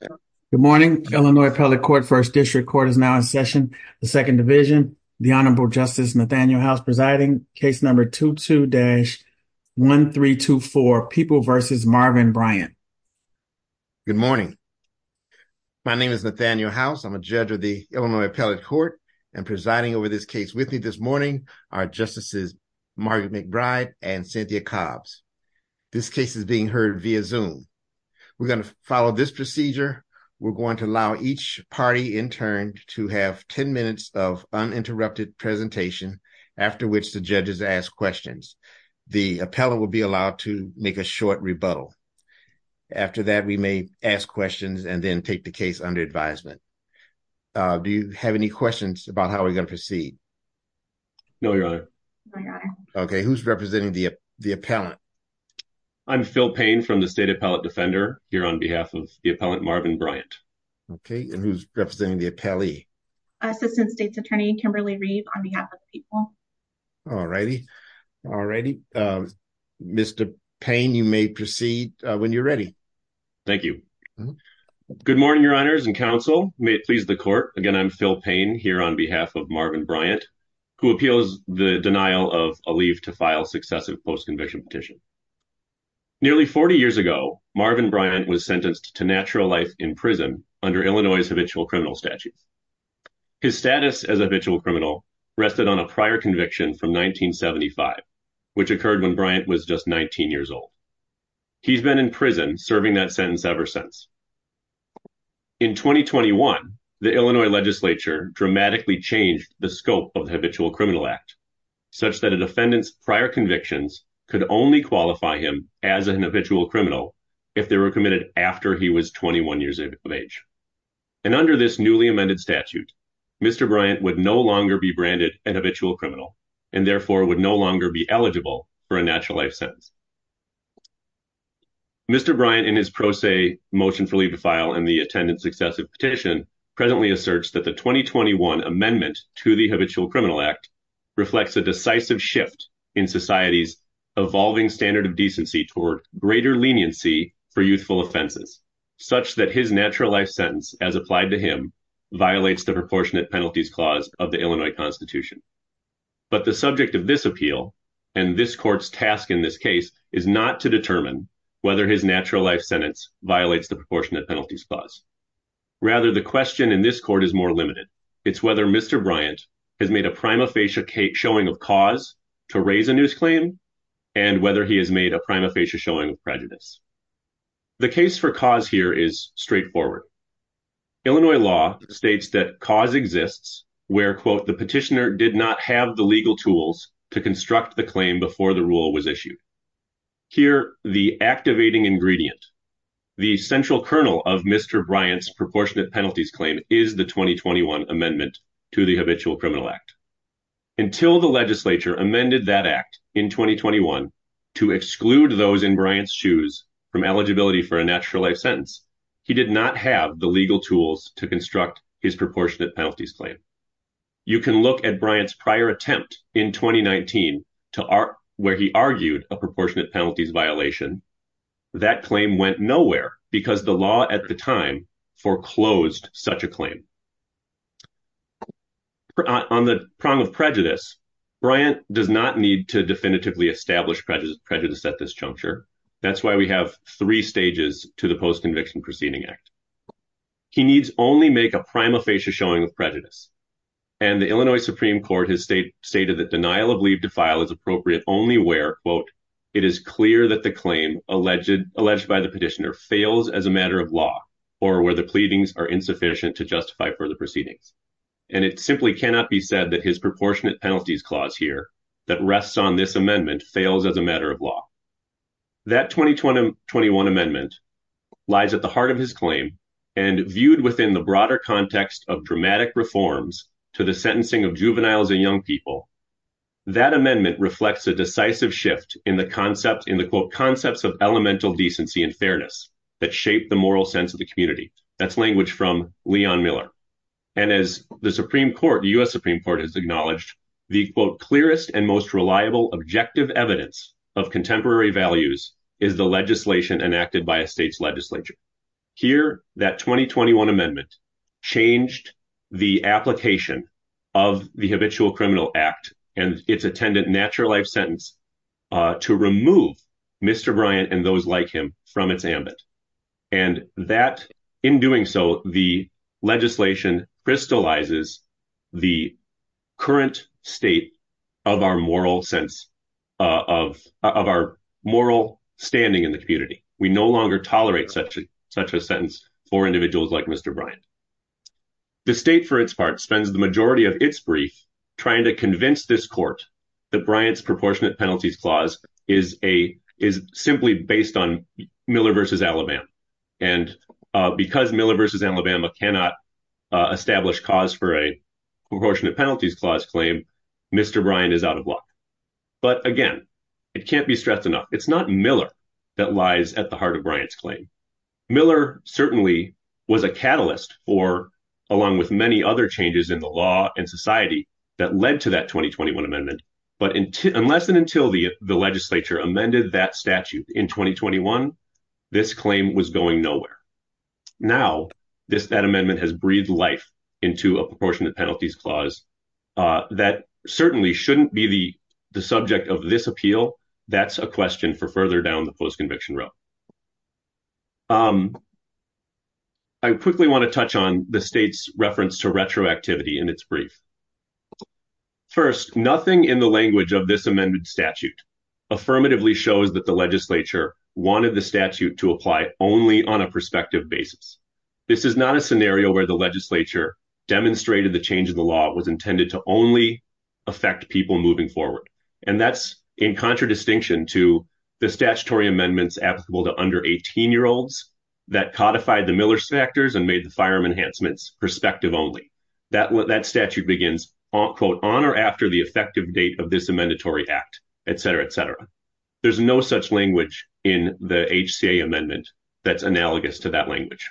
Good morning, Illinois Appellate Court. First District Court is now in session. The Second Division, the Honorable Justice Nathaniel House presiding. Case number 22-1324, People v. Marvin Bryant. Good morning. My name is Nathaniel House. I'm a judge of the Illinois Appellate Court and presiding over this case with me this morning are Justices Margaret McBride and Cynthia Cobbs. This case is being heard via Zoom. We're going to follow this allow each party interned to have 10 minutes of uninterrupted presentation after which the judges ask questions. The appellate will be allowed to make a short rebuttal. After that we may ask questions and then take the case under advisement. Do you have any questions about how we're going to proceed? No, Your Honor. Okay, who's representing the appellant? I'm Phil Payne from the State Appellate Defender here on behalf of the appellant Marvin Bryant. Okay, and who's representing the appellee? Assistant State's Attorney Kimberly Reeve on behalf of the people. Alrighty, alrighty. Mr. Payne, you may proceed when you're ready. Thank you. Good morning, Your Honors and counsel. May it please the court. Again, I'm Phil Payne here on behalf of Marvin Bryant who appeals the denial of a leave to file successive post-conviction petition. Nearly 40 years ago, Marvin Bryant was sentenced to natural life in prison under Illinois' habitual criminal statute. His status as a habitual criminal rested on a prior conviction from 1975, which occurred when Bryant was just 19 years old. He's been in prison serving that sentence ever since. In 2021, the Illinois legislature dramatically changed the scope of the habitual criminal act such that a defendant's prior convictions could only qualify him as an habitual criminal if they were committed after he was 21 years of age. And under this newly amended statute, Mr. Bryant would no longer be branded an habitual criminal and therefore would no longer be eligible for a natural life sentence. Mr. Bryant in his pro se motion for leave to file and the attendance successive petition presently asserts that the 2021 amendment to the habitual criminal act reflects a decisive shift in society's evolving standard of decency toward greater leniency for youthful offenses such that his natural life sentence as applied to him violates the proportionate penalties clause of the Illinois Constitution. But the subject of this appeal and this court's task in this case is not to determine whether his natural life sentence violates the proportionate penalties clause. Rather, the question in this court is more limited. It's whether Mr. Bryant has made a prima facie showing of cause to raise a news claim and whether he has made a prima facie showing of prejudice. The case for cause here is straightforward. Illinois law states that cause exists where, quote, the petitioner did not have the legal tools to construct the claim before the rule was issued. Here, the activating ingredient, the central kernel of Mr. Bryant's proportionate penalties claim is the 2021 amendment to the habitual criminal act. Until the legislature amended that act in 2021 to exclude those in Bryant's shoes from eligibility for a natural life sentence, he did not have the legal tools to construct his proportionate penalties claim. You can look at Bryant's prior attempt in 2019 where he argued a proportionate penalties violation. That claim went nowhere because the law at the time foreclosed such a claim. On the prong of prejudice, Bryant does not need to definitively establish prejudice at this juncture. That's why we have three stages to the post-conviction proceeding act. He needs only make a prima facie showing of prejudice. And the Illinois law states where, quote, it is clear that the claim alleged by the petitioner fails as a matter of law or where the pleadings are insufficient to justify further proceedings. And it simply cannot be said that his proportionate penalties clause here that rests on this amendment fails as a matter of law. That 2021 amendment lies at the heart of his claim and viewed within the broader context of dramatic reforms to the sentencing of juveniles and young people. That amendment reflects a decisive shift in the concepts of elemental decency and fairness that shape the moral sense of the community. That's language from Leon Miller. And as the Supreme Court, the U.S. Supreme Court has acknowledged, the, quote, clearest and most reliable objective evidence of contemporary values is the legislation enacted by a state's and its attendant natural life sentence to remove Mr. Bryant and those like him from its ambit. And that in doing so, the legislation crystallizes the current state of our moral sense of our moral standing in the community. We no longer tolerate such a such a sentence for individuals like Mr. Bryant. The state, for its part, spends the majority of its brief trying to convince this court that Bryant's proportionate penalties clause is simply based on Miller versus Alabama. And because Miller versus Alabama cannot establish cause for a proportionate penalties clause claim, Mr. Bryant is out of luck. But again, it can't be stressed enough. It's not Miller that lies at the heart of Bryant's claim. Miller certainly was a catalyst for, along with many other changes in the law and society that led to that 2021 amendment. But unless and until the legislature amended that statute in 2021, this claim was going nowhere. Now, that amendment has breathed life into a proportionate penalties clause that certainly shouldn't be the subject of this room. I quickly want to touch on the state's reference to retroactivity in its brief. First, nothing in the language of this amended statute affirmatively shows that the legislature wanted the statute to apply only on a prospective basis. This is not a scenario where the legislature demonstrated the change in the law was intended to only affect people moving forward. And that's in contradistinction to the statutory amendments applicable to under 18-year-olds that codified the Miller factors and made the firearm enhancements prospective only. That statute begins, quote, on or after the effective date of this amendatory act, et cetera, et cetera. There's no such language in the HCA amendment that's analogous to that language.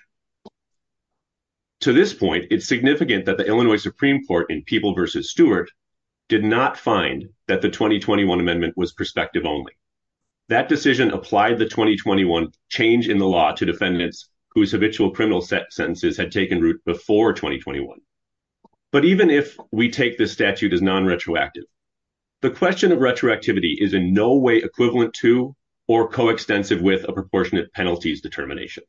To this point, it's significant that the Illinois Supreme Court in People versus Stewart did not find that the 2021 amendment was prospective only. That decision applied the 2021 change in the law to defendants whose habitual criminal sentences had taken root before 2021. But even if we take this statute as non-retroactive, the question of retroactivity is in no way equivalent to or coextensive with a proportionate penalties determination.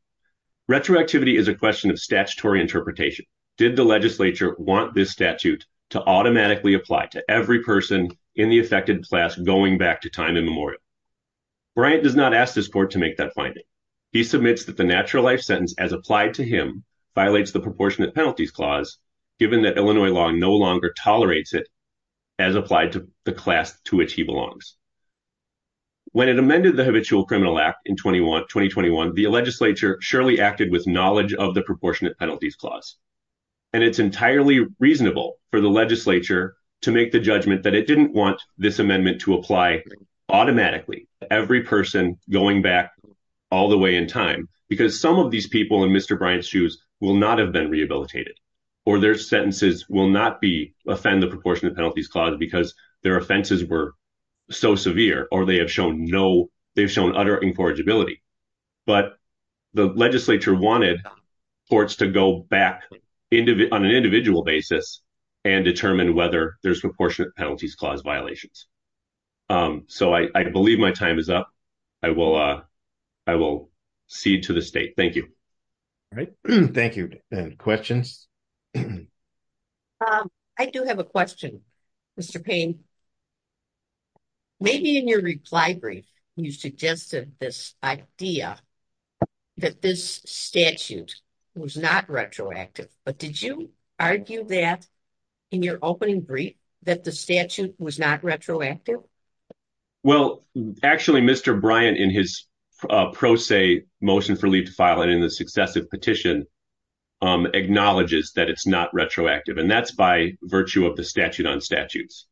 Retroactivity is a question of statutory interpretation. Did the legislature want this statute to automatically apply to every person in the affected class going back to time in memorial? Bryant does not ask this court to make that finding. He submits that the natural life sentence as applied to him violates the proportionate penalties clause, given that Illinois law no longer tolerates it as applied to the class to which he belongs. When it amended the habitual criminal act in 2021, the legislature surely acted with knowledge of the proportionate the legislature to make the judgment that it didn't want this amendment to apply automatically to every person going back all the way in time, because some of these people in Mr. Bryant's shoes will not have been rehabilitated, or their sentences will not offend the proportionate penalties clause because their offenses were so severe, or they have shown utter incorrigibility. But the legislature wanted courts to go back on an individual basis and determine whether there's proportionate penalties clause violations. So I believe my time is up. I will cede to the state. Thank you. All right. Thank you. Questions? I do have a question, Mr. Payne. Maybe in your reply brief, you suggested this idea that this statute was not retroactive, but did you argue that in your opening brief that the statute was not retroactive? Well, actually, Mr. Bryant, in his pro se motion for leave to file it in the successive petition, acknowledges that it's not retroactive, and that's by virtue of the statute on statutes.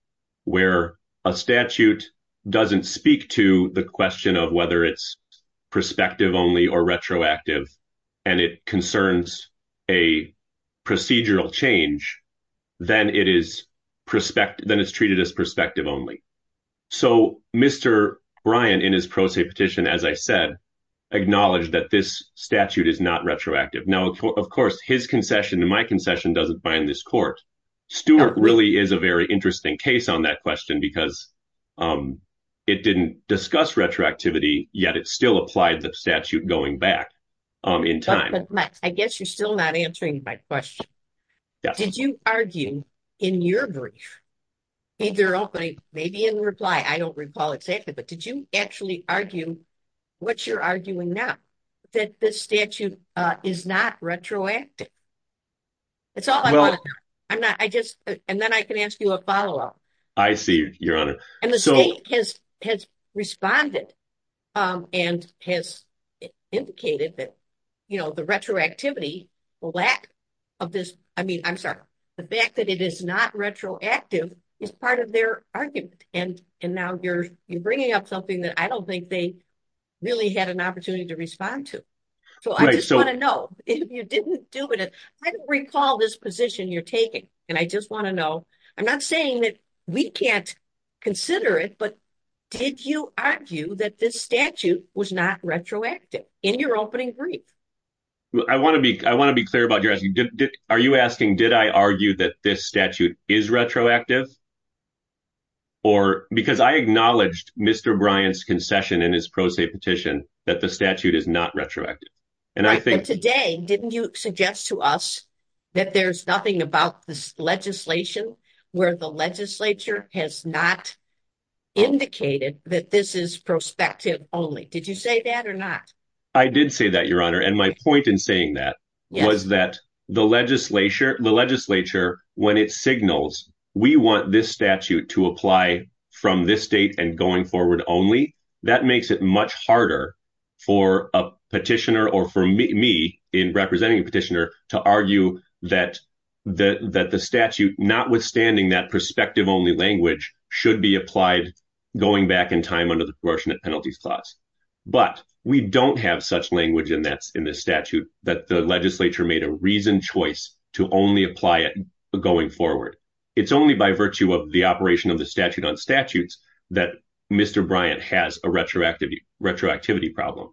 Where a statute doesn't speak to the question of whether it's perspective only or retroactive, and it concerns a procedural change, then it's treated as perspective only. So Mr. Bryant, in his pro se petition, as I said, acknowledged that this statute is not retroactive. Now, of course, his concession and my concession doesn't bind this court. Stewart really is a very interesting case on that question, because it didn't discuss retroactivity, yet it still applied the statute going back in time. I guess you're still not answering my question. Did you argue in your brief, either opening, maybe in reply, I don't recall exactly, but did you actually argue what you're arguing now, that this statute is not retroactive? And then I can ask you a follow-up. I see, Your Honor. And the state has responded and has indicated that the retroactivity, the lack of this, I mean, I'm sorry, the fact that it is not retroactive is part of their argument. And now you're bringing up something that I don't think they really had an opportunity to respond to. So I just want to know, if you didn't do it, I don't recall this position you're taking. And I just want to know, I'm not saying that we can't consider it, but did you argue that this statute was not retroactive in your opening brief? I want to be clear about your asking. Are you asking, did I argue that this statute is retroactive or, because I acknowledged Mr. Bryant's concession in his pro se petition, that the statute is not retroactive. And I think- But today, didn't you suggest to us that there's nothing about this legislation where the legislature has not indicated that this is prospective only? Did you say that or not? I did say that, Your Honor. And my point in saying that was that the legislature, the legislature, when it signals we want this statute to apply from this state and going forward only, that makes it much harder for a petitioner or for me in representing a petitioner to argue that the statute, notwithstanding that prospective only language, should be applied going back in time under the proportionate penalties clause. But we don't have such in this statute that the legislature made a reasoned choice to only apply it going forward. It's only by virtue of the operation of the statute on statutes that Mr. Bryant has a retroactivity problem.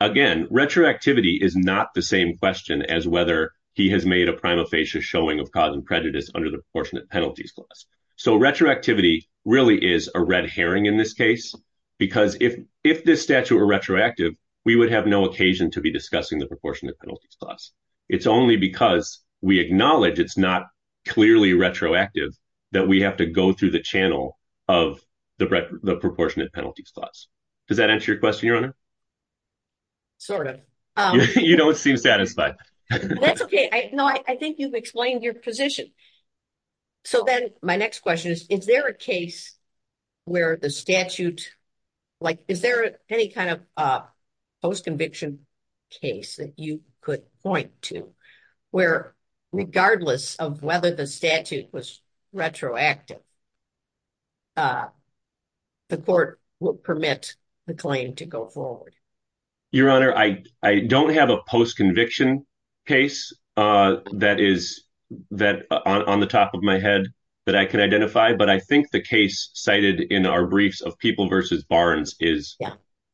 Again, retroactivity is not the same question as whether he has made a prima facie showing of cause and prejudice under the proportionate penalties clause. So retroactivity really is a red herring in this case, because if this statute were retroactive, we would have no occasion to be discussing the proportionate penalties clause. It's only because we acknowledge it's not clearly retroactive that we have to go through the channel of the proportionate penalties clause. Does that answer your question, Your Honor? Sort of. You don't seem satisfied. That's okay. No, I think you've explained your position. So then my next question is, is there a case where the statute, like, is there any kind of post-conviction case that you could point to where, regardless of whether the statute was retroactive, the court will permit the claim to go forward? Your Honor, I don't have a post-conviction case that is on the top of my head that I can identify. But I think the case cited in our briefs of People v. Barnes is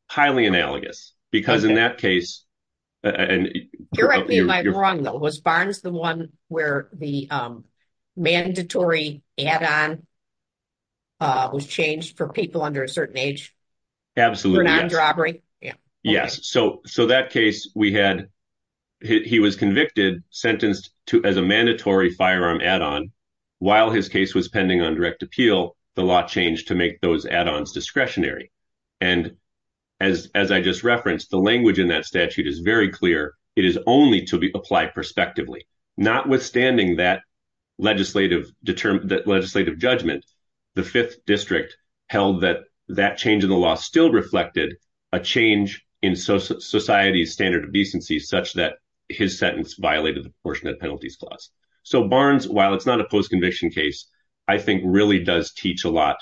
highly analogous. Because in that case... You're right, but am I wrong, though? Was Barnes the one where the mandatory add-on was changed for people under a certain age? Absolutely. For non-robbery? Yes. So that case we had, he was convicted, sentenced to as a mandatory firearm add-on. While his case was pending on direct appeal, the law changed to make those add-ons discretionary. And as I just referenced, the language in that statute is very clear. It is only to apply prospectively. Notwithstanding that legislative judgment, the Fifth District held that that change in the law still reflected a change in society's standard of decency such that his sentence violated the proportionate penalties clause. So Barnes, while it's not a post-conviction case, I think really does teach a lot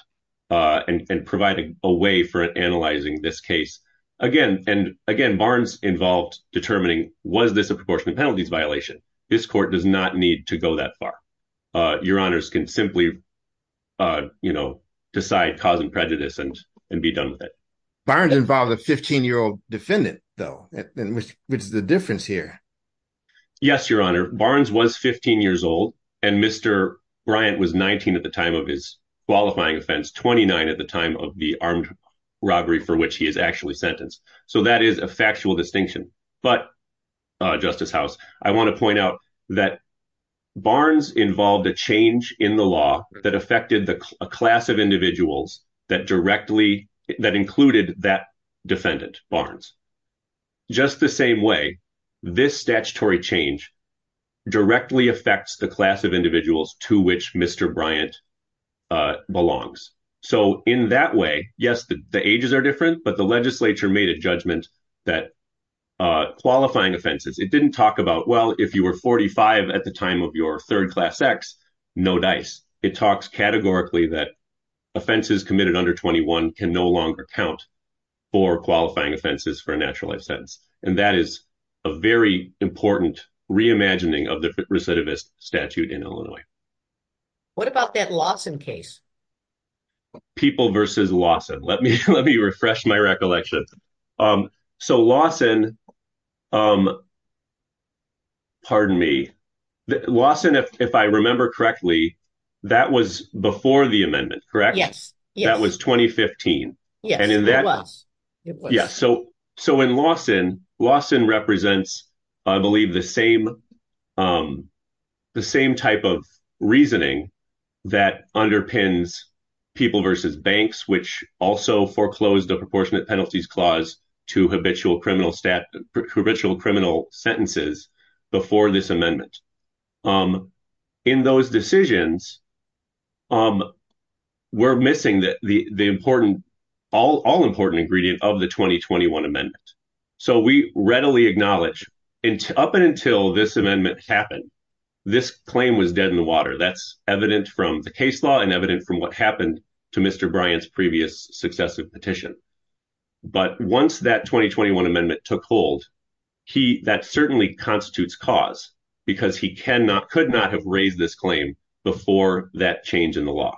and provide a way for analyzing this case. Again, Barnes involved determining, was this a proportionate penalties violation? This court does not need to go that far. Your Honors can simply decide cause and prejudice and be done with it. Barnes involved a 15-year-old defendant, though, which is the difference here. Yes, Your Honor. Barnes was 15 years old and Mr. Bryant was 19 at the time of his qualifying offense, 29 at the time of the armed robbery for which he is actually sentenced. So that is a factual distinction. But, Justice House, I want to point out that Barnes involved a change in the law that affected a class of individuals that included that class. This statutory change directly affects the class of individuals to which Mr. Bryant belongs. So in that way, yes, the ages are different, but the legislature made a judgment that qualifying offenses, it didn't talk about, well, if you were 45 at the time of your third class ex, no dice. It talks categorically that offenses committed under 21 can no longer count for qualifying offenses for a natural life sentence. And that is a very important reimagining of the recidivist statute in Illinois. What about that Lawson case? People versus Lawson. Let me refresh my recollection. So Lawson, pardon me, Lawson, if I remember correctly, that was before the amendment, correct? Yes. That was 2015. Yes, it was. Yes. So in Lawson, Lawson represents, I believe, the same type of reasoning that underpins people versus banks, which also foreclosed a proportionate penalties clause to habitual criminal sentences before this amendment. In those decisions, um, we're missing the important, all important ingredient of the 2021 amendment. So we readily acknowledge up until this amendment happened, this claim was dead in the water. That's evident from the case law and evident from what happened to Mr. Bryant's previous successive petition. But once that 2021 amendment took hold, that certainly constitutes cause because he cannot, could not have raised this claim before that change in the law.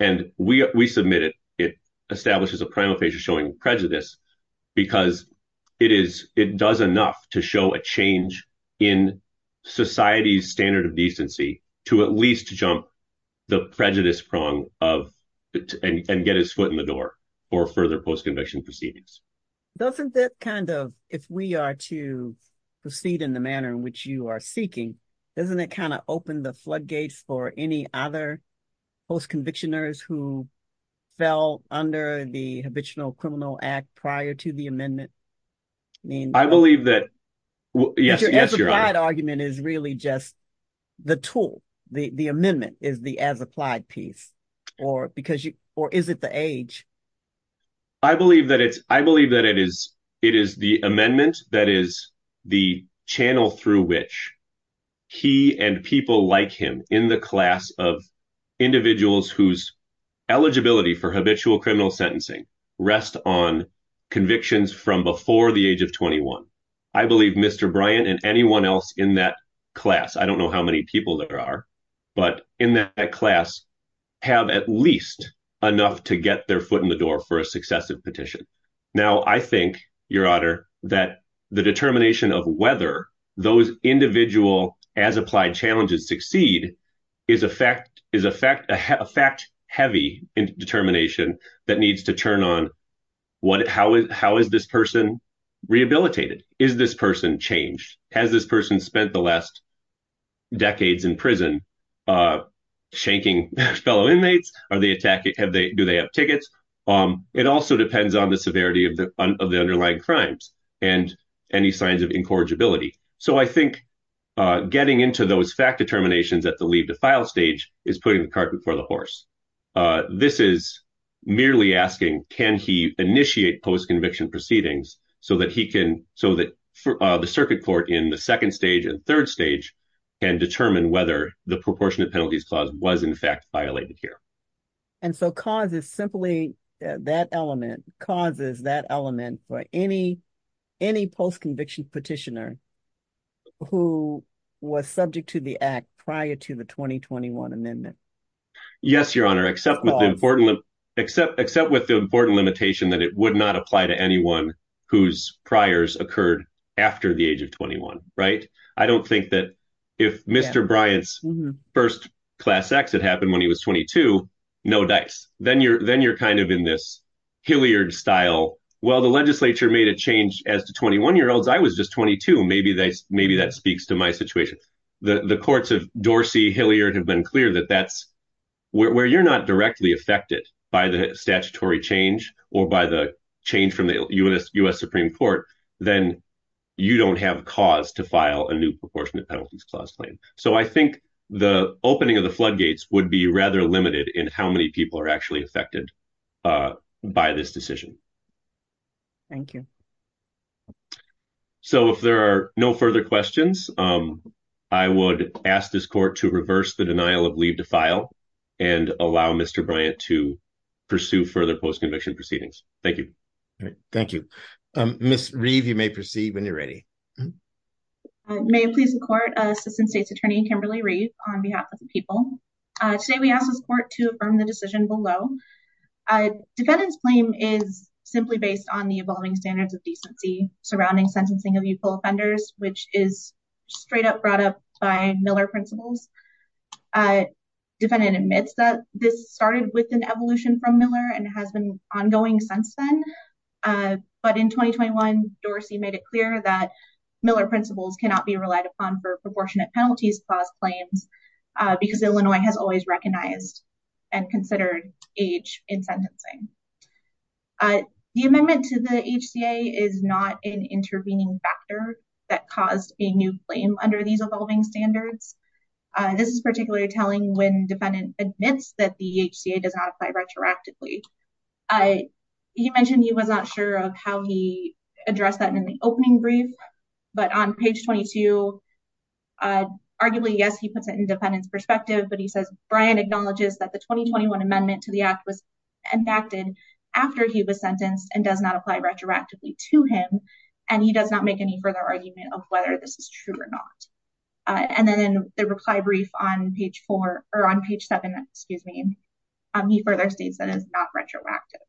And we, we submitted, it establishes a prima facie showing prejudice because it is, it does enough to show a change in society's standard of decency to at least jump the prejudice prong of, and get his foot in the door for further post-conviction proceedings. Doesn't that kind of, if we are to proceed in the manner in which you are seeking, doesn't it kind of open the floodgates for any other post-convictioners who fell under the Habitual Criminal Act prior to the amendment? I believe that, yes, yes, your honor. But your as-applied argument is really just the tool, the, the amendment is the as-applied piece or because you, or is it the age? I believe that it's, I believe that it is, it is the amendment that is the channel through which he and people like him in the class of individuals whose eligibility for habitual criminal sentencing rest on convictions from before the age of 21. I believe Mr. Bryant and anyone else in that class, I don't know how many people there are, but in that class have at least enough to get their foot in the door for a successive petition. Now, I think, your honor, that the determination of whether those individual as-applied challenges succeed is a fact, is a fact, a fact heavy determination that needs to turn on what, how is, how is this person rehabilitated? Is this person changed? Has this person spent the last decades in prison shanking fellow inmates? Are they attacking, have they, do they have tickets? It also depends on the severity of the underlying crimes and any signs of incorrigibility. So, I think getting into those fact determinations at the leave to file stage is putting the cart before the horse. This is merely asking, can he initiate post-conviction proceedings so that he whether the proportionate penalties clause was in fact violated here. And so, cause is simply that element, cause is that element for any, any post-conviction petitioner who was subject to the act prior to the 2021 amendment. Yes, your honor, except with the important, except, except with the important limitation that it would not apply to anyone whose priors occurred after the age of 21, right? I don't think that if Mr. Bryant's first class X had happened when he was 22, no dice, then you're, then you're kind of in this Hilliard style. Well, the legislature made a change as to 21 year olds. I was just 22. Maybe that's, maybe that speaks to my situation. The, the courts of Dorsey, Hilliard have been clear that that's where you're not directly affected by the statutory change or by the change from the U.S. Supreme court, then you don't have cause to file a new proportionate penalties clause claim. So I think the opening of the floodgates would be rather limited in how many people are actually affected by this decision. Thank you. So if there are no further questions, I would ask this court to reverse the denial of leave to file and allow Mr. Bryant to pursue further post-conviction proceedings. Thank you. Thank you. Ms. Reeve, you may proceed when you're ready. May it please the court, assistant state's attorney, Kimberly Reeve on behalf of the people. Today we ask this court to affirm the decision below. A defendant's claim is simply based on the evolving standards of decency surrounding sentencing of youthful offenders, which is this started with an evolution from Miller and has been ongoing since then. But in 2021, Dorsey made it clear that Miller principles cannot be relied upon for proportionate penalties clause claims because Illinois has always recognized and considered age in sentencing. The amendment to the HCA is not an intervening factor that caused a new claim under these standards. This is particularly telling when defendant admits that the HCA does not apply retroactively. He mentioned he was not sure of how he addressed that in the opening brief, but on page 22, arguably, yes, he puts it in defendant's perspective, but he says Bryant acknowledges that the 2021 amendment to the act was enacted after he was sentenced and does not apply retroactively to him. And he does not make any further argument of whether this is true or not. And then in the reply brief on page four or on page seven, excuse me, he further states that it's not retroactive.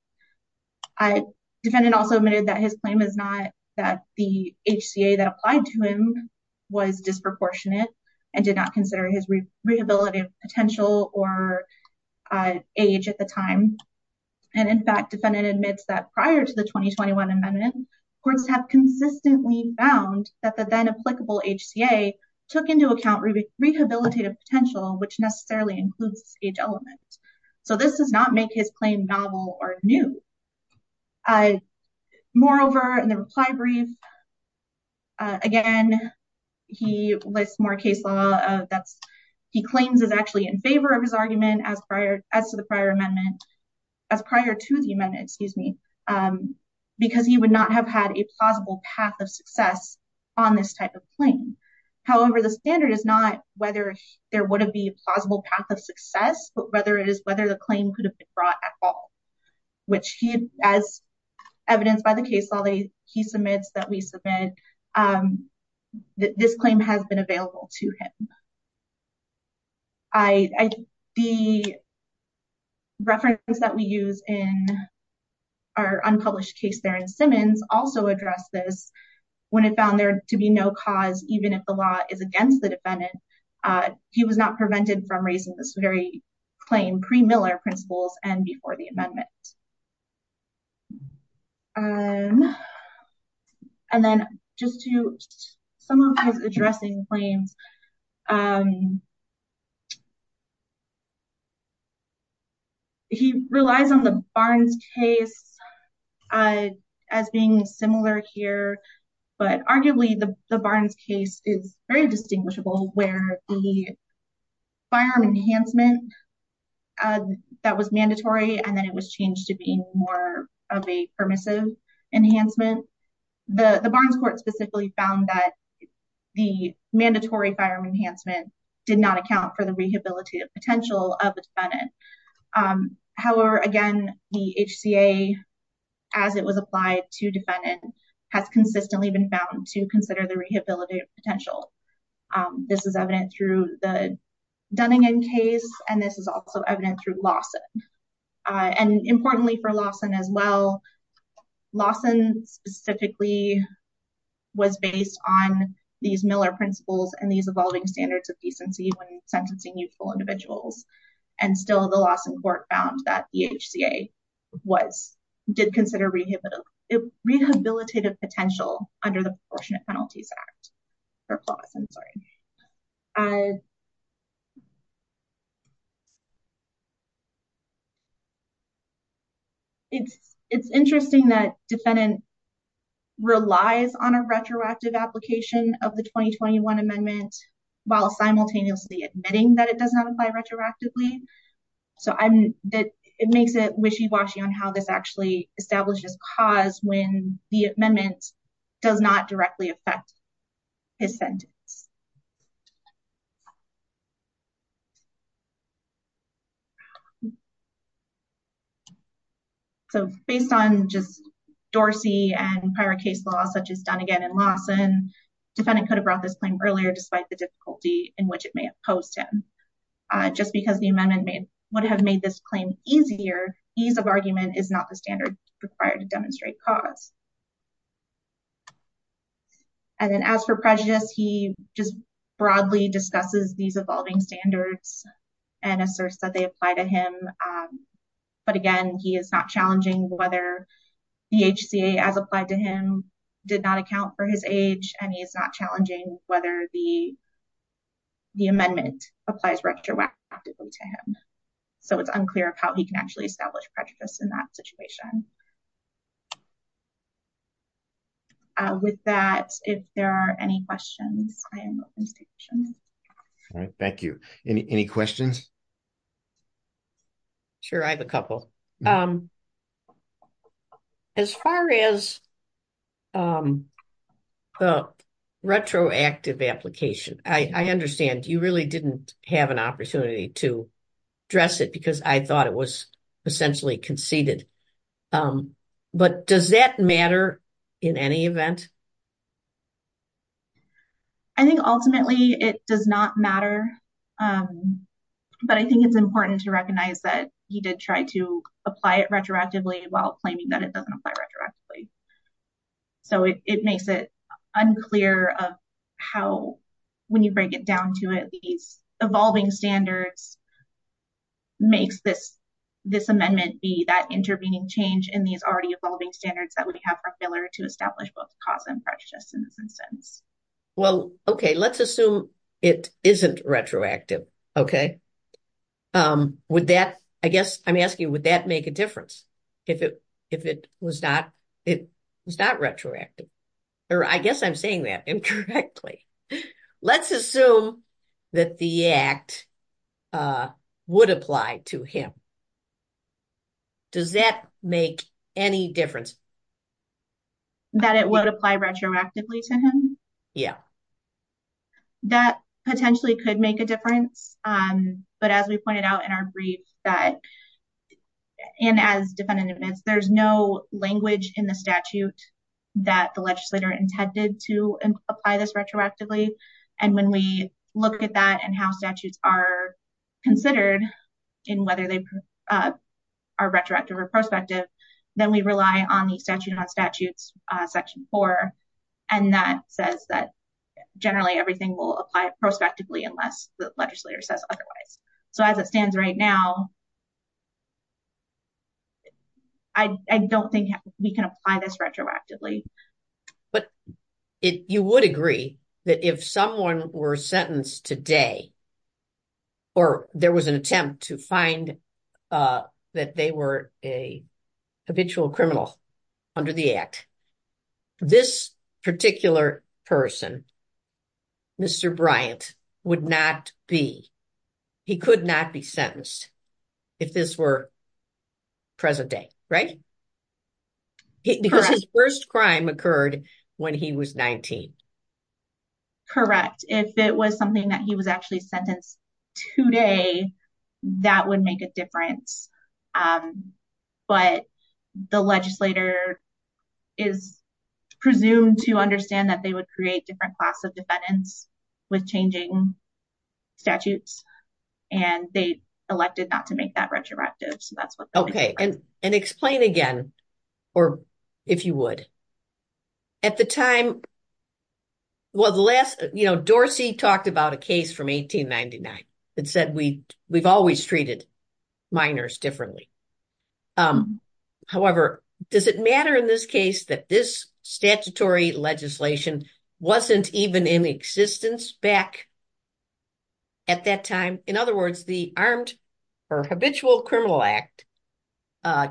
Defendant also admitted that his claim is not that the HCA that applied to him was disproportionate and did not consider his rehabilitative potential or age at the time. And in fact, defendant admits that prior to the 2021 amendment, courts have consistently found that the then applicable HCA took into account rehabilitative potential, which necessarily includes age element. So this does not make his claim novel or new. Moreover, in the reply brief, again, he lists more case law that he claims is actually in favor of his argument as prior as to the prior amendment, as prior to the amendment, excuse me, because he would not have had a plausible path of success on this type of claim. However, the standard is not whether there would be a plausible path of success, but whether it is whether the claim could have been brought at all, which he, as evidenced by the case law that he submits that we submit, this claim has been available to him. The reference that we use in our unpublished case there in Simmons also addressed this when it found there to be no cause, even if the law is against the defendant. He was not prevented from raising this very claim pre-Miller principles and before the amendment. And then just to some of his addressing claims, he relies on the Barnes case as being similar here, but arguably the Barnes case is very distinguishable where the firearm enhancement that was mandatory and then it was changed to being more of a permissive enhancement. The Barnes court specifically found that the mandatory firearm enhancement did not account for the rehabilitative potential of the defendant. However, again, the HCA as it was applied to defendant has consistently been found to consider the rehabilitative potential. This is evident through the Dunning case and this is also evident through Lawson as well. Lawson specifically was based on these Miller principles and these evolving standards of decency when sentencing youthful individuals. And still the Lawson court found that the HCA did consider rehabilitative potential under the Proportionate Penalties Act. It's interesting that defendant relies on a retroactive application of the 2021 amendment while simultaneously admitting that it does not apply retroactively. So it makes it wishy-washy on how this actually establishes cause when the amendment does not So based on just Dorsey and prior case law such as Dunnigan and Lawson, defendant could have brought this claim earlier despite the difficulty in which it may have posed him. Just because the amendment would have made this claim easier, ease of argument is not the standard required to demonstrate cause. And then as for prejudice, he just broadly discusses these whether the HCA, as applied to him, did not account for his age and he is not challenging whether the amendment applies retroactively to him. So it's unclear of how he can actually establish prejudice in that situation. With that, if there are any questions, I am open to questions. All right, thank you. Any questions? Sure, I have a couple. As far as the retroactive application, I understand you really didn't have an opportunity to address it because I thought it was essentially conceded. But does that matter in any event? I think ultimately it does not matter. But I think it's important to recognize that he did try to apply it retroactively while claiming that it doesn't apply retroactively. So it makes it unclear of how, when you break it down to it, these evolving standards makes this amendment be that intervening change in these already evolving standards that we have for filler to establish both cause and prejudice in this instance. Well, okay, let's assume it isn't retroactive, okay? With that, I guess I'm asking, would that make a difference if it was not retroactive? Or I guess I'm saying that incorrectly. Let's assume that the act would apply to him. Does that make any difference? That it would apply retroactively to him? Yeah. That potentially could make a difference. But as we pointed out in our brief that, and as defendant admits, there's no language in the statute that the legislator intended to apply this retroactively. And when we look at that and how statutes are considered in whether they are retroactive or prospective, then we rely on the statute on statutes section four. And that says that generally everything will apply prospectively unless the legislator says otherwise. So as it stands right now, I don't think we can apply this retroactively. But you would agree that if someone were sentenced today, or there was an attempt to find that they were a habitual criminal under the act, this particular person, Mr. Bryant, would not be, he could not be sentenced if this were present day, right? Because his first crime occurred when he was 19. Correct. If it was something that he was actually sentenced today, that would make a difference. But the legislator is presumed to understand that they would create different class of defendants with changing statutes, and they elected not to make that retroactive. So that's what... Okay. And explain again, or if you would, at the time, well, the last, you know, Dorsey talked about a case from 1899 that said we've always treated minors differently. However, does it matter in this case that this statutory legislation wasn't even in existence back at that time? In other words, the Armed or Habitual Criminal Act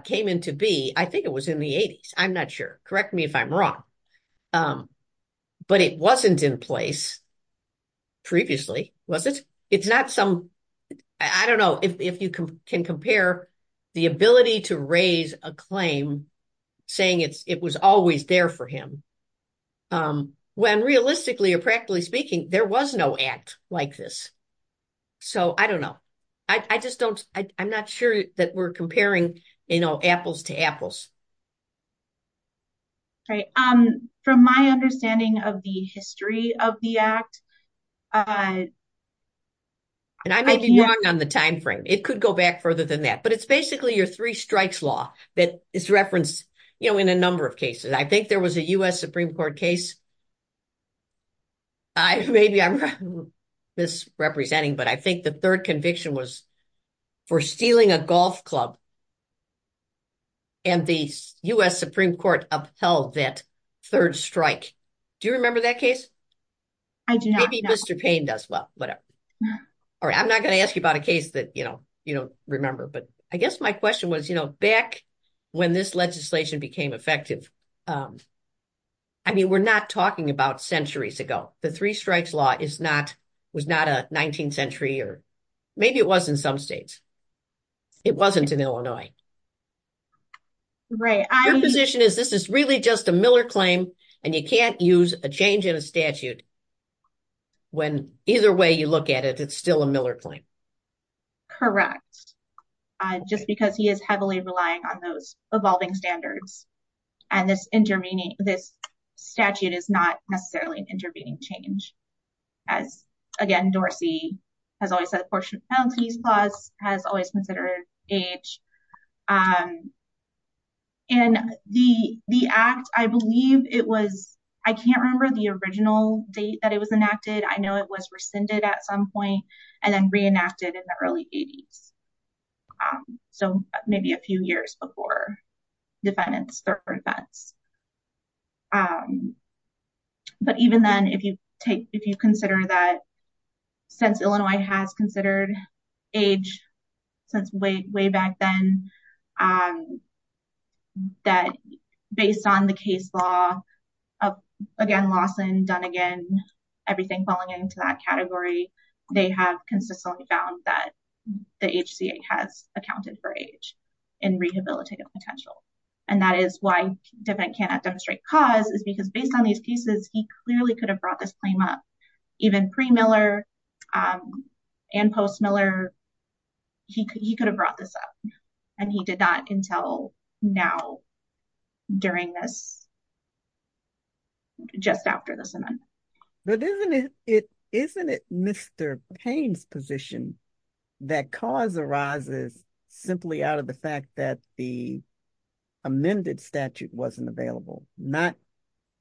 came into be, I think it was in the 80s. I'm not sure. Correct me if I'm wrong. But it wasn't in place previously, was it? It's not some... I don't know if you can compare the ability to raise a claim saying it was always there for him, when realistically or practically speaking, there was no act like this. So I don't know. I just don't... I'm not sure that we're comparing, you know, apples to apples. Right. From my understanding of the history of the act... And I may be wrong on the time frame. It could go back further than that. But it's basically your three strikes law that is referenced, you know, in a number of cases. I think there was a U.S. Supreme Court case. Maybe I'm misrepresenting, but I think the third conviction was for stealing a golf club. And the U.S. Supreme Court upheld that third strike. Do you remember that case? I do not. Maybe Mr. Payne does. Well, whatever. All right. I'm not going to ask you about a case that, you know, you don't remember. But I guess my question was, you know, back when this legislation became effective. I mean, we're not talking about centuries ago. The three strikes law is not... was not a 19th century or maybe it was in some states. It wasn't in Illinois. Right. Your position is this is really just a Miller claim and you can't use a change in a statute when either way you look at it, it's still a Miller claim. Correct. Just because he is heavily relying on those evolving standards. And this intervening, this statute is not necessarily an intervening change. As again, Dorsey has always said a lot. And the act, I believe it was, I can't remember the original date that it was enacted. I know it was rescinded at some point and then reenacted in the early 80s. So maybe a few years before defendant's third offense. But even then, if you take, if you look at the case law, that based on the case law, again, Lawson, Dunnigan, everything falling into that category, they have consistently found that the HCA has accounted for age in rehabilitative potential. And that is why defendant cannot demonstrate cause is because based on these pieces, he clearly could have brought this claim up even pre Miller and post Miller, he could have brought this up. And he did not until now, during this, just after this event. But isn't it, isn't it Mr. Payne's position that cause arises simply out of the fact that the amended statute wasn't available, not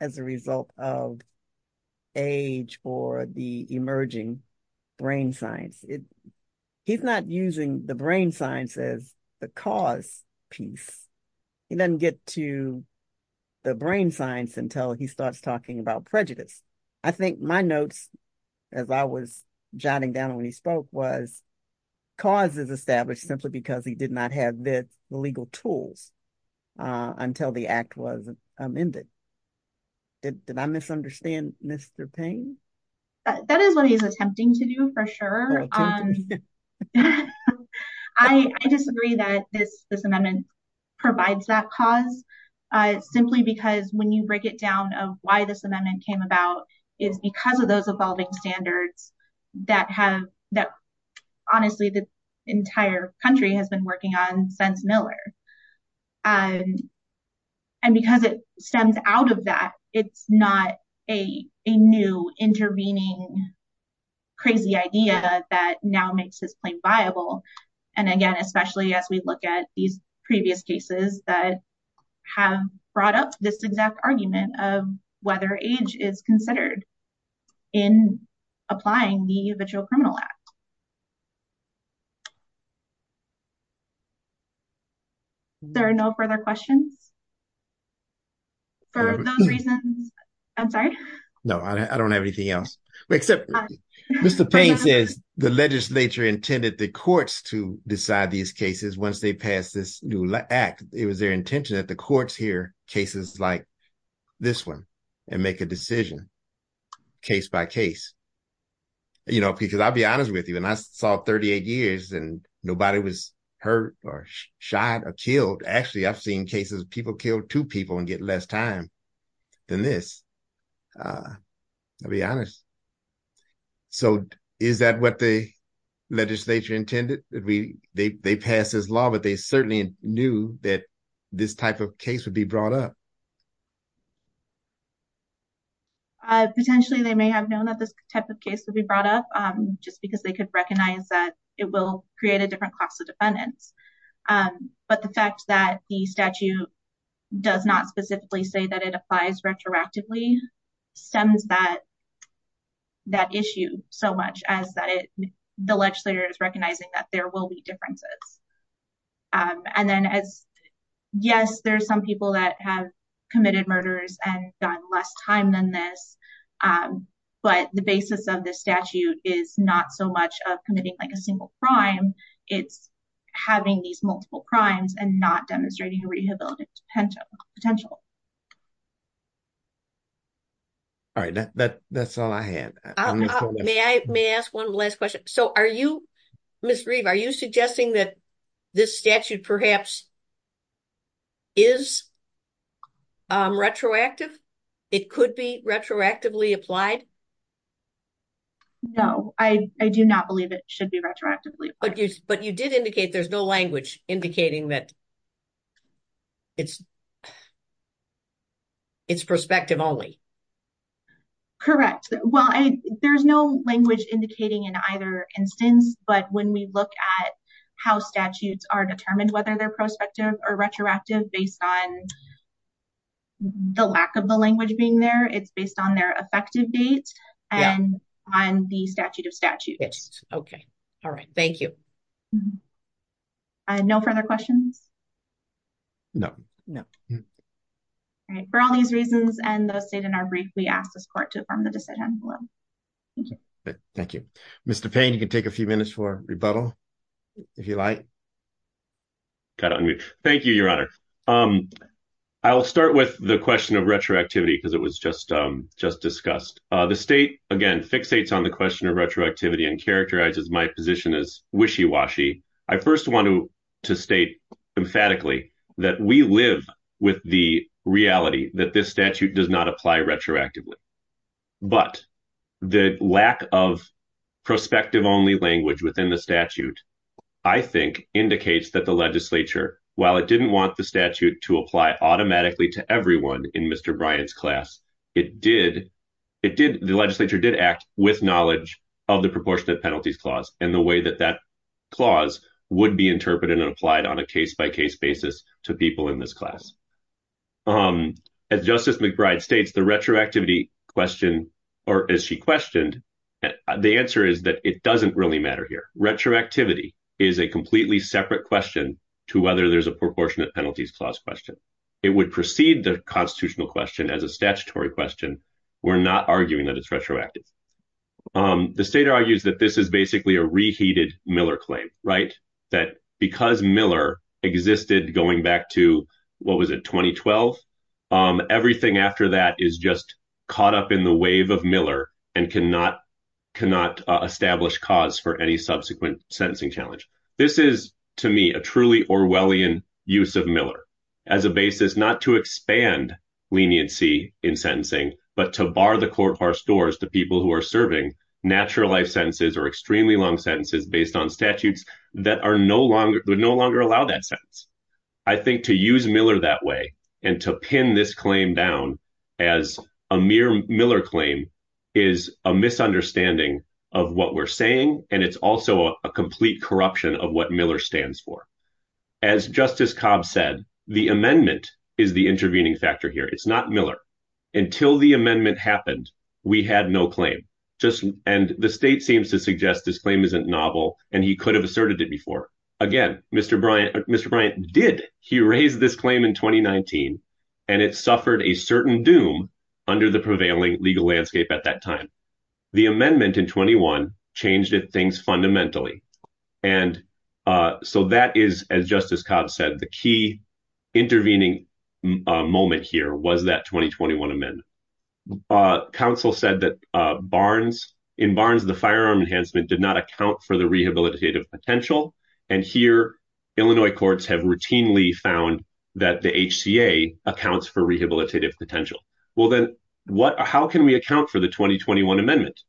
as a result of age or the emerging brain science? He's not using the brain science as the cause piece. He doesn't get to the brain science until he starts talking about prejudice. I think my notes, as I was jotting down when he spoke, was cause is established simply because he did not have the legal tools until the act was amended. Did I misunderstand Mr. Payne? That is what he's attempting to do for sure. I disagree that this, this amendment provides that cause, simply because when you break it down of why this amendment came about is because of those evolving standards that have that, entire country has been working on since Miller. And, and because it stems out of that, it's not a, a new intervening, crazy idea that now makes this claim viable. And again, especially as we look at these previous cases that have brought up this exact argument of whether age is considered in applying the habitual criminal act. There are no further questions for those reasons. I'm sorry. No, I don't have anything else except Mr. Payne says the legislature intended the courts to decide these cases. Once they pass this new act, it was their intention that the courts hear cases like this one and make a decision case by case, you know, because I'll be honest with you. And I saw 38 years and nobody was hurt or shot or killed. Actually, I've seen cases of people killed two people and get less time than this. I'll be honest. So is that what the legislature intended that we, they, they pass this law, but they certainly knew that this type of case would be brought up. Potentially, they may have known that this type of case would be brought up just because they could recognize that it will create a different class of defendants. But the fact that the statute does not specifically say that it applies retroactively stems that, that issue so much as that it, the legislature is recognizing that there will be differences. And then as, yes, there's some people that have committed murders and done less time than this. But the basis of the statute is not so much of committing like a single crime. It's having these multiple crimes and not demonstrating a rehabilitative potential. All right. That, that, that's all I had. May I, may I ask one last question? So are you, Ms. Reeve, are you suggesting that this statute perhaps is retroactive? It could be retroactively applied? No, I, I do not believe it should be retroactively. But you, but you did indicate there's no language indicating that it's, it's prospective only. Correct. Well, I, there's no language indicating in either instance, but when we look at how statutes are determined, whether they're prospective or retroactive based on the lack of the language being there, it's based on their effective dates and on the statute of statutes. Okay. All right. Thank you. No further questions? No. No. All right. For all these reasons and those stated in our brief, we ask this court to affirm the decision. Thank you. Mr. Payne, you can take a few minutes for rebuttal if you like. Thank you, Your Honor. I'll start with the question of retroactivity because it was just, just discussed. The state, again, fixates on the question of retroactivity and I first want to state emphatically that we live with the reality that this statute does not apply retroactively, but the lack of prospective only language within the statute, I think indicates that the legislature, while it didn't want the statute to apply automatically to everyone in Mr. Bryant's class, it did, it did, the legislature did act with knowledge of the proportionate and the way that that clause would be interpreted and applied on a case-by-case basis to people in this class. As Justice McBride states, the retroactivity question, or as she questioned, the answer is that it doesn't really matter here. Retroactivity is a completely separate question to whether there's a proportionate penalties clause question. It would precede the constitutional question as a statutory question. We're not arguing that it's retroactive. The state argues that this is basically a reheated Miller claim, right, that because Miller existed going back to, what was it, 2012, everything after that is just caught up in the wave of Miller and cannot, cannot establish cause for any subsequent sentencing challenge. This is, to me, a truly Orwellian use of Miller as a basis not to expand leniency in sentencing, but to bar the courthouse doors to people who are serving natural life sentences or extremely long sentences based on statutes that are no longer, would no longer allow that sentence. I think to use Miller that way and to pin this claim down as a mere Miller claim is a misunderstanding of what we're saying, and it's also a complete corruption of what Miller stands for. As Justice Cobb said, the amendment is the no claim, just, and the state seems to suggest this claim isn't novel, and he could have asserted it before. Again, Mr. Bryant, Mr. Bryant did. He raised this claim in 2019, and it suffered a certain doom under the prevailing legal landscape at that time. The amendment in 21 changed things fundamentally, and so that is, as Justice Cobb said, the key intervening moment here was that 2021 amendment. Council said that Barnes, in Barnes, the firearm enhancement did not account for the rehabilitative potential, and here Illinois courts have routinely found that the HCA accounts for rehabilitative potential. Well then, what, how can we account for the 2021 amendment?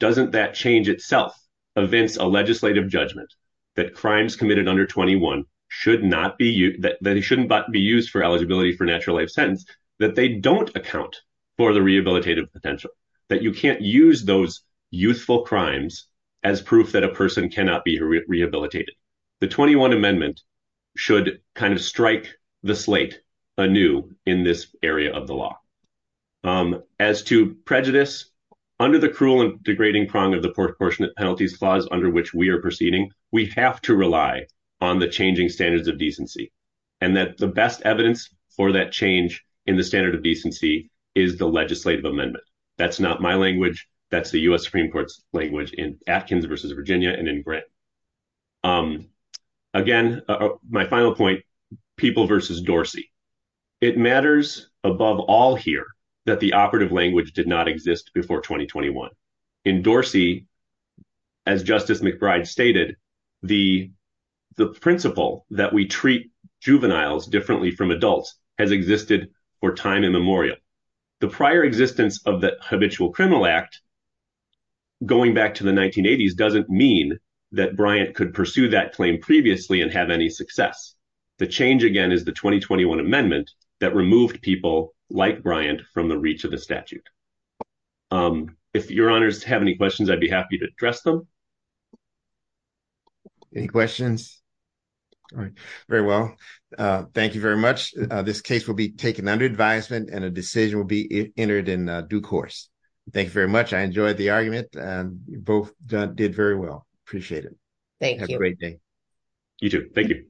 Doesn't that change itself evince a legislative judgment that crimes committed under 21 should not be, that shouldn't be used for eligibility for natural life sentence, that they don't account for the rehabilitative potential, that you can't use those youthful crimes as proof that a person cannot be rehabilitated. The 21 amendment should kind of strike the slate anew in this area of the law. As to prejudice, under the cruel and degrading prong of the proportionate penalties clause under which we are proceeding, we have to rely on the changing standards of decency, and that the best evidence for that change in the standard of decency is the legislative amendment. That's not my language, that's the U.S. Supreme Court's language in Atkins versus Virginia and in Grant. Again, my final point, people versus Dorsey. It matters above all here that the operative language did not exist before 2021. In Dorsey, as Justice McBride stated, the principle that we treat juveniles differently from adults has existed for time immemorial. The prior existence of the Habitual Criminal Act, going back to the 1980s, doesn't mean that Bryant could pursue that claim previously and have any success. The change, again, is the 2021 amendment that removed people like Bryant from the reach of the statute. If your honors have any questions, I'd be happy to address them. Any questions? All right, very well. Thank you very much. This case will be taken under advisement and a decision will be entered in due course. Thank you very much. I enjoyed the argument and you both did very well. Appreciate it. Thank you. Have a great day. You too. Thank you.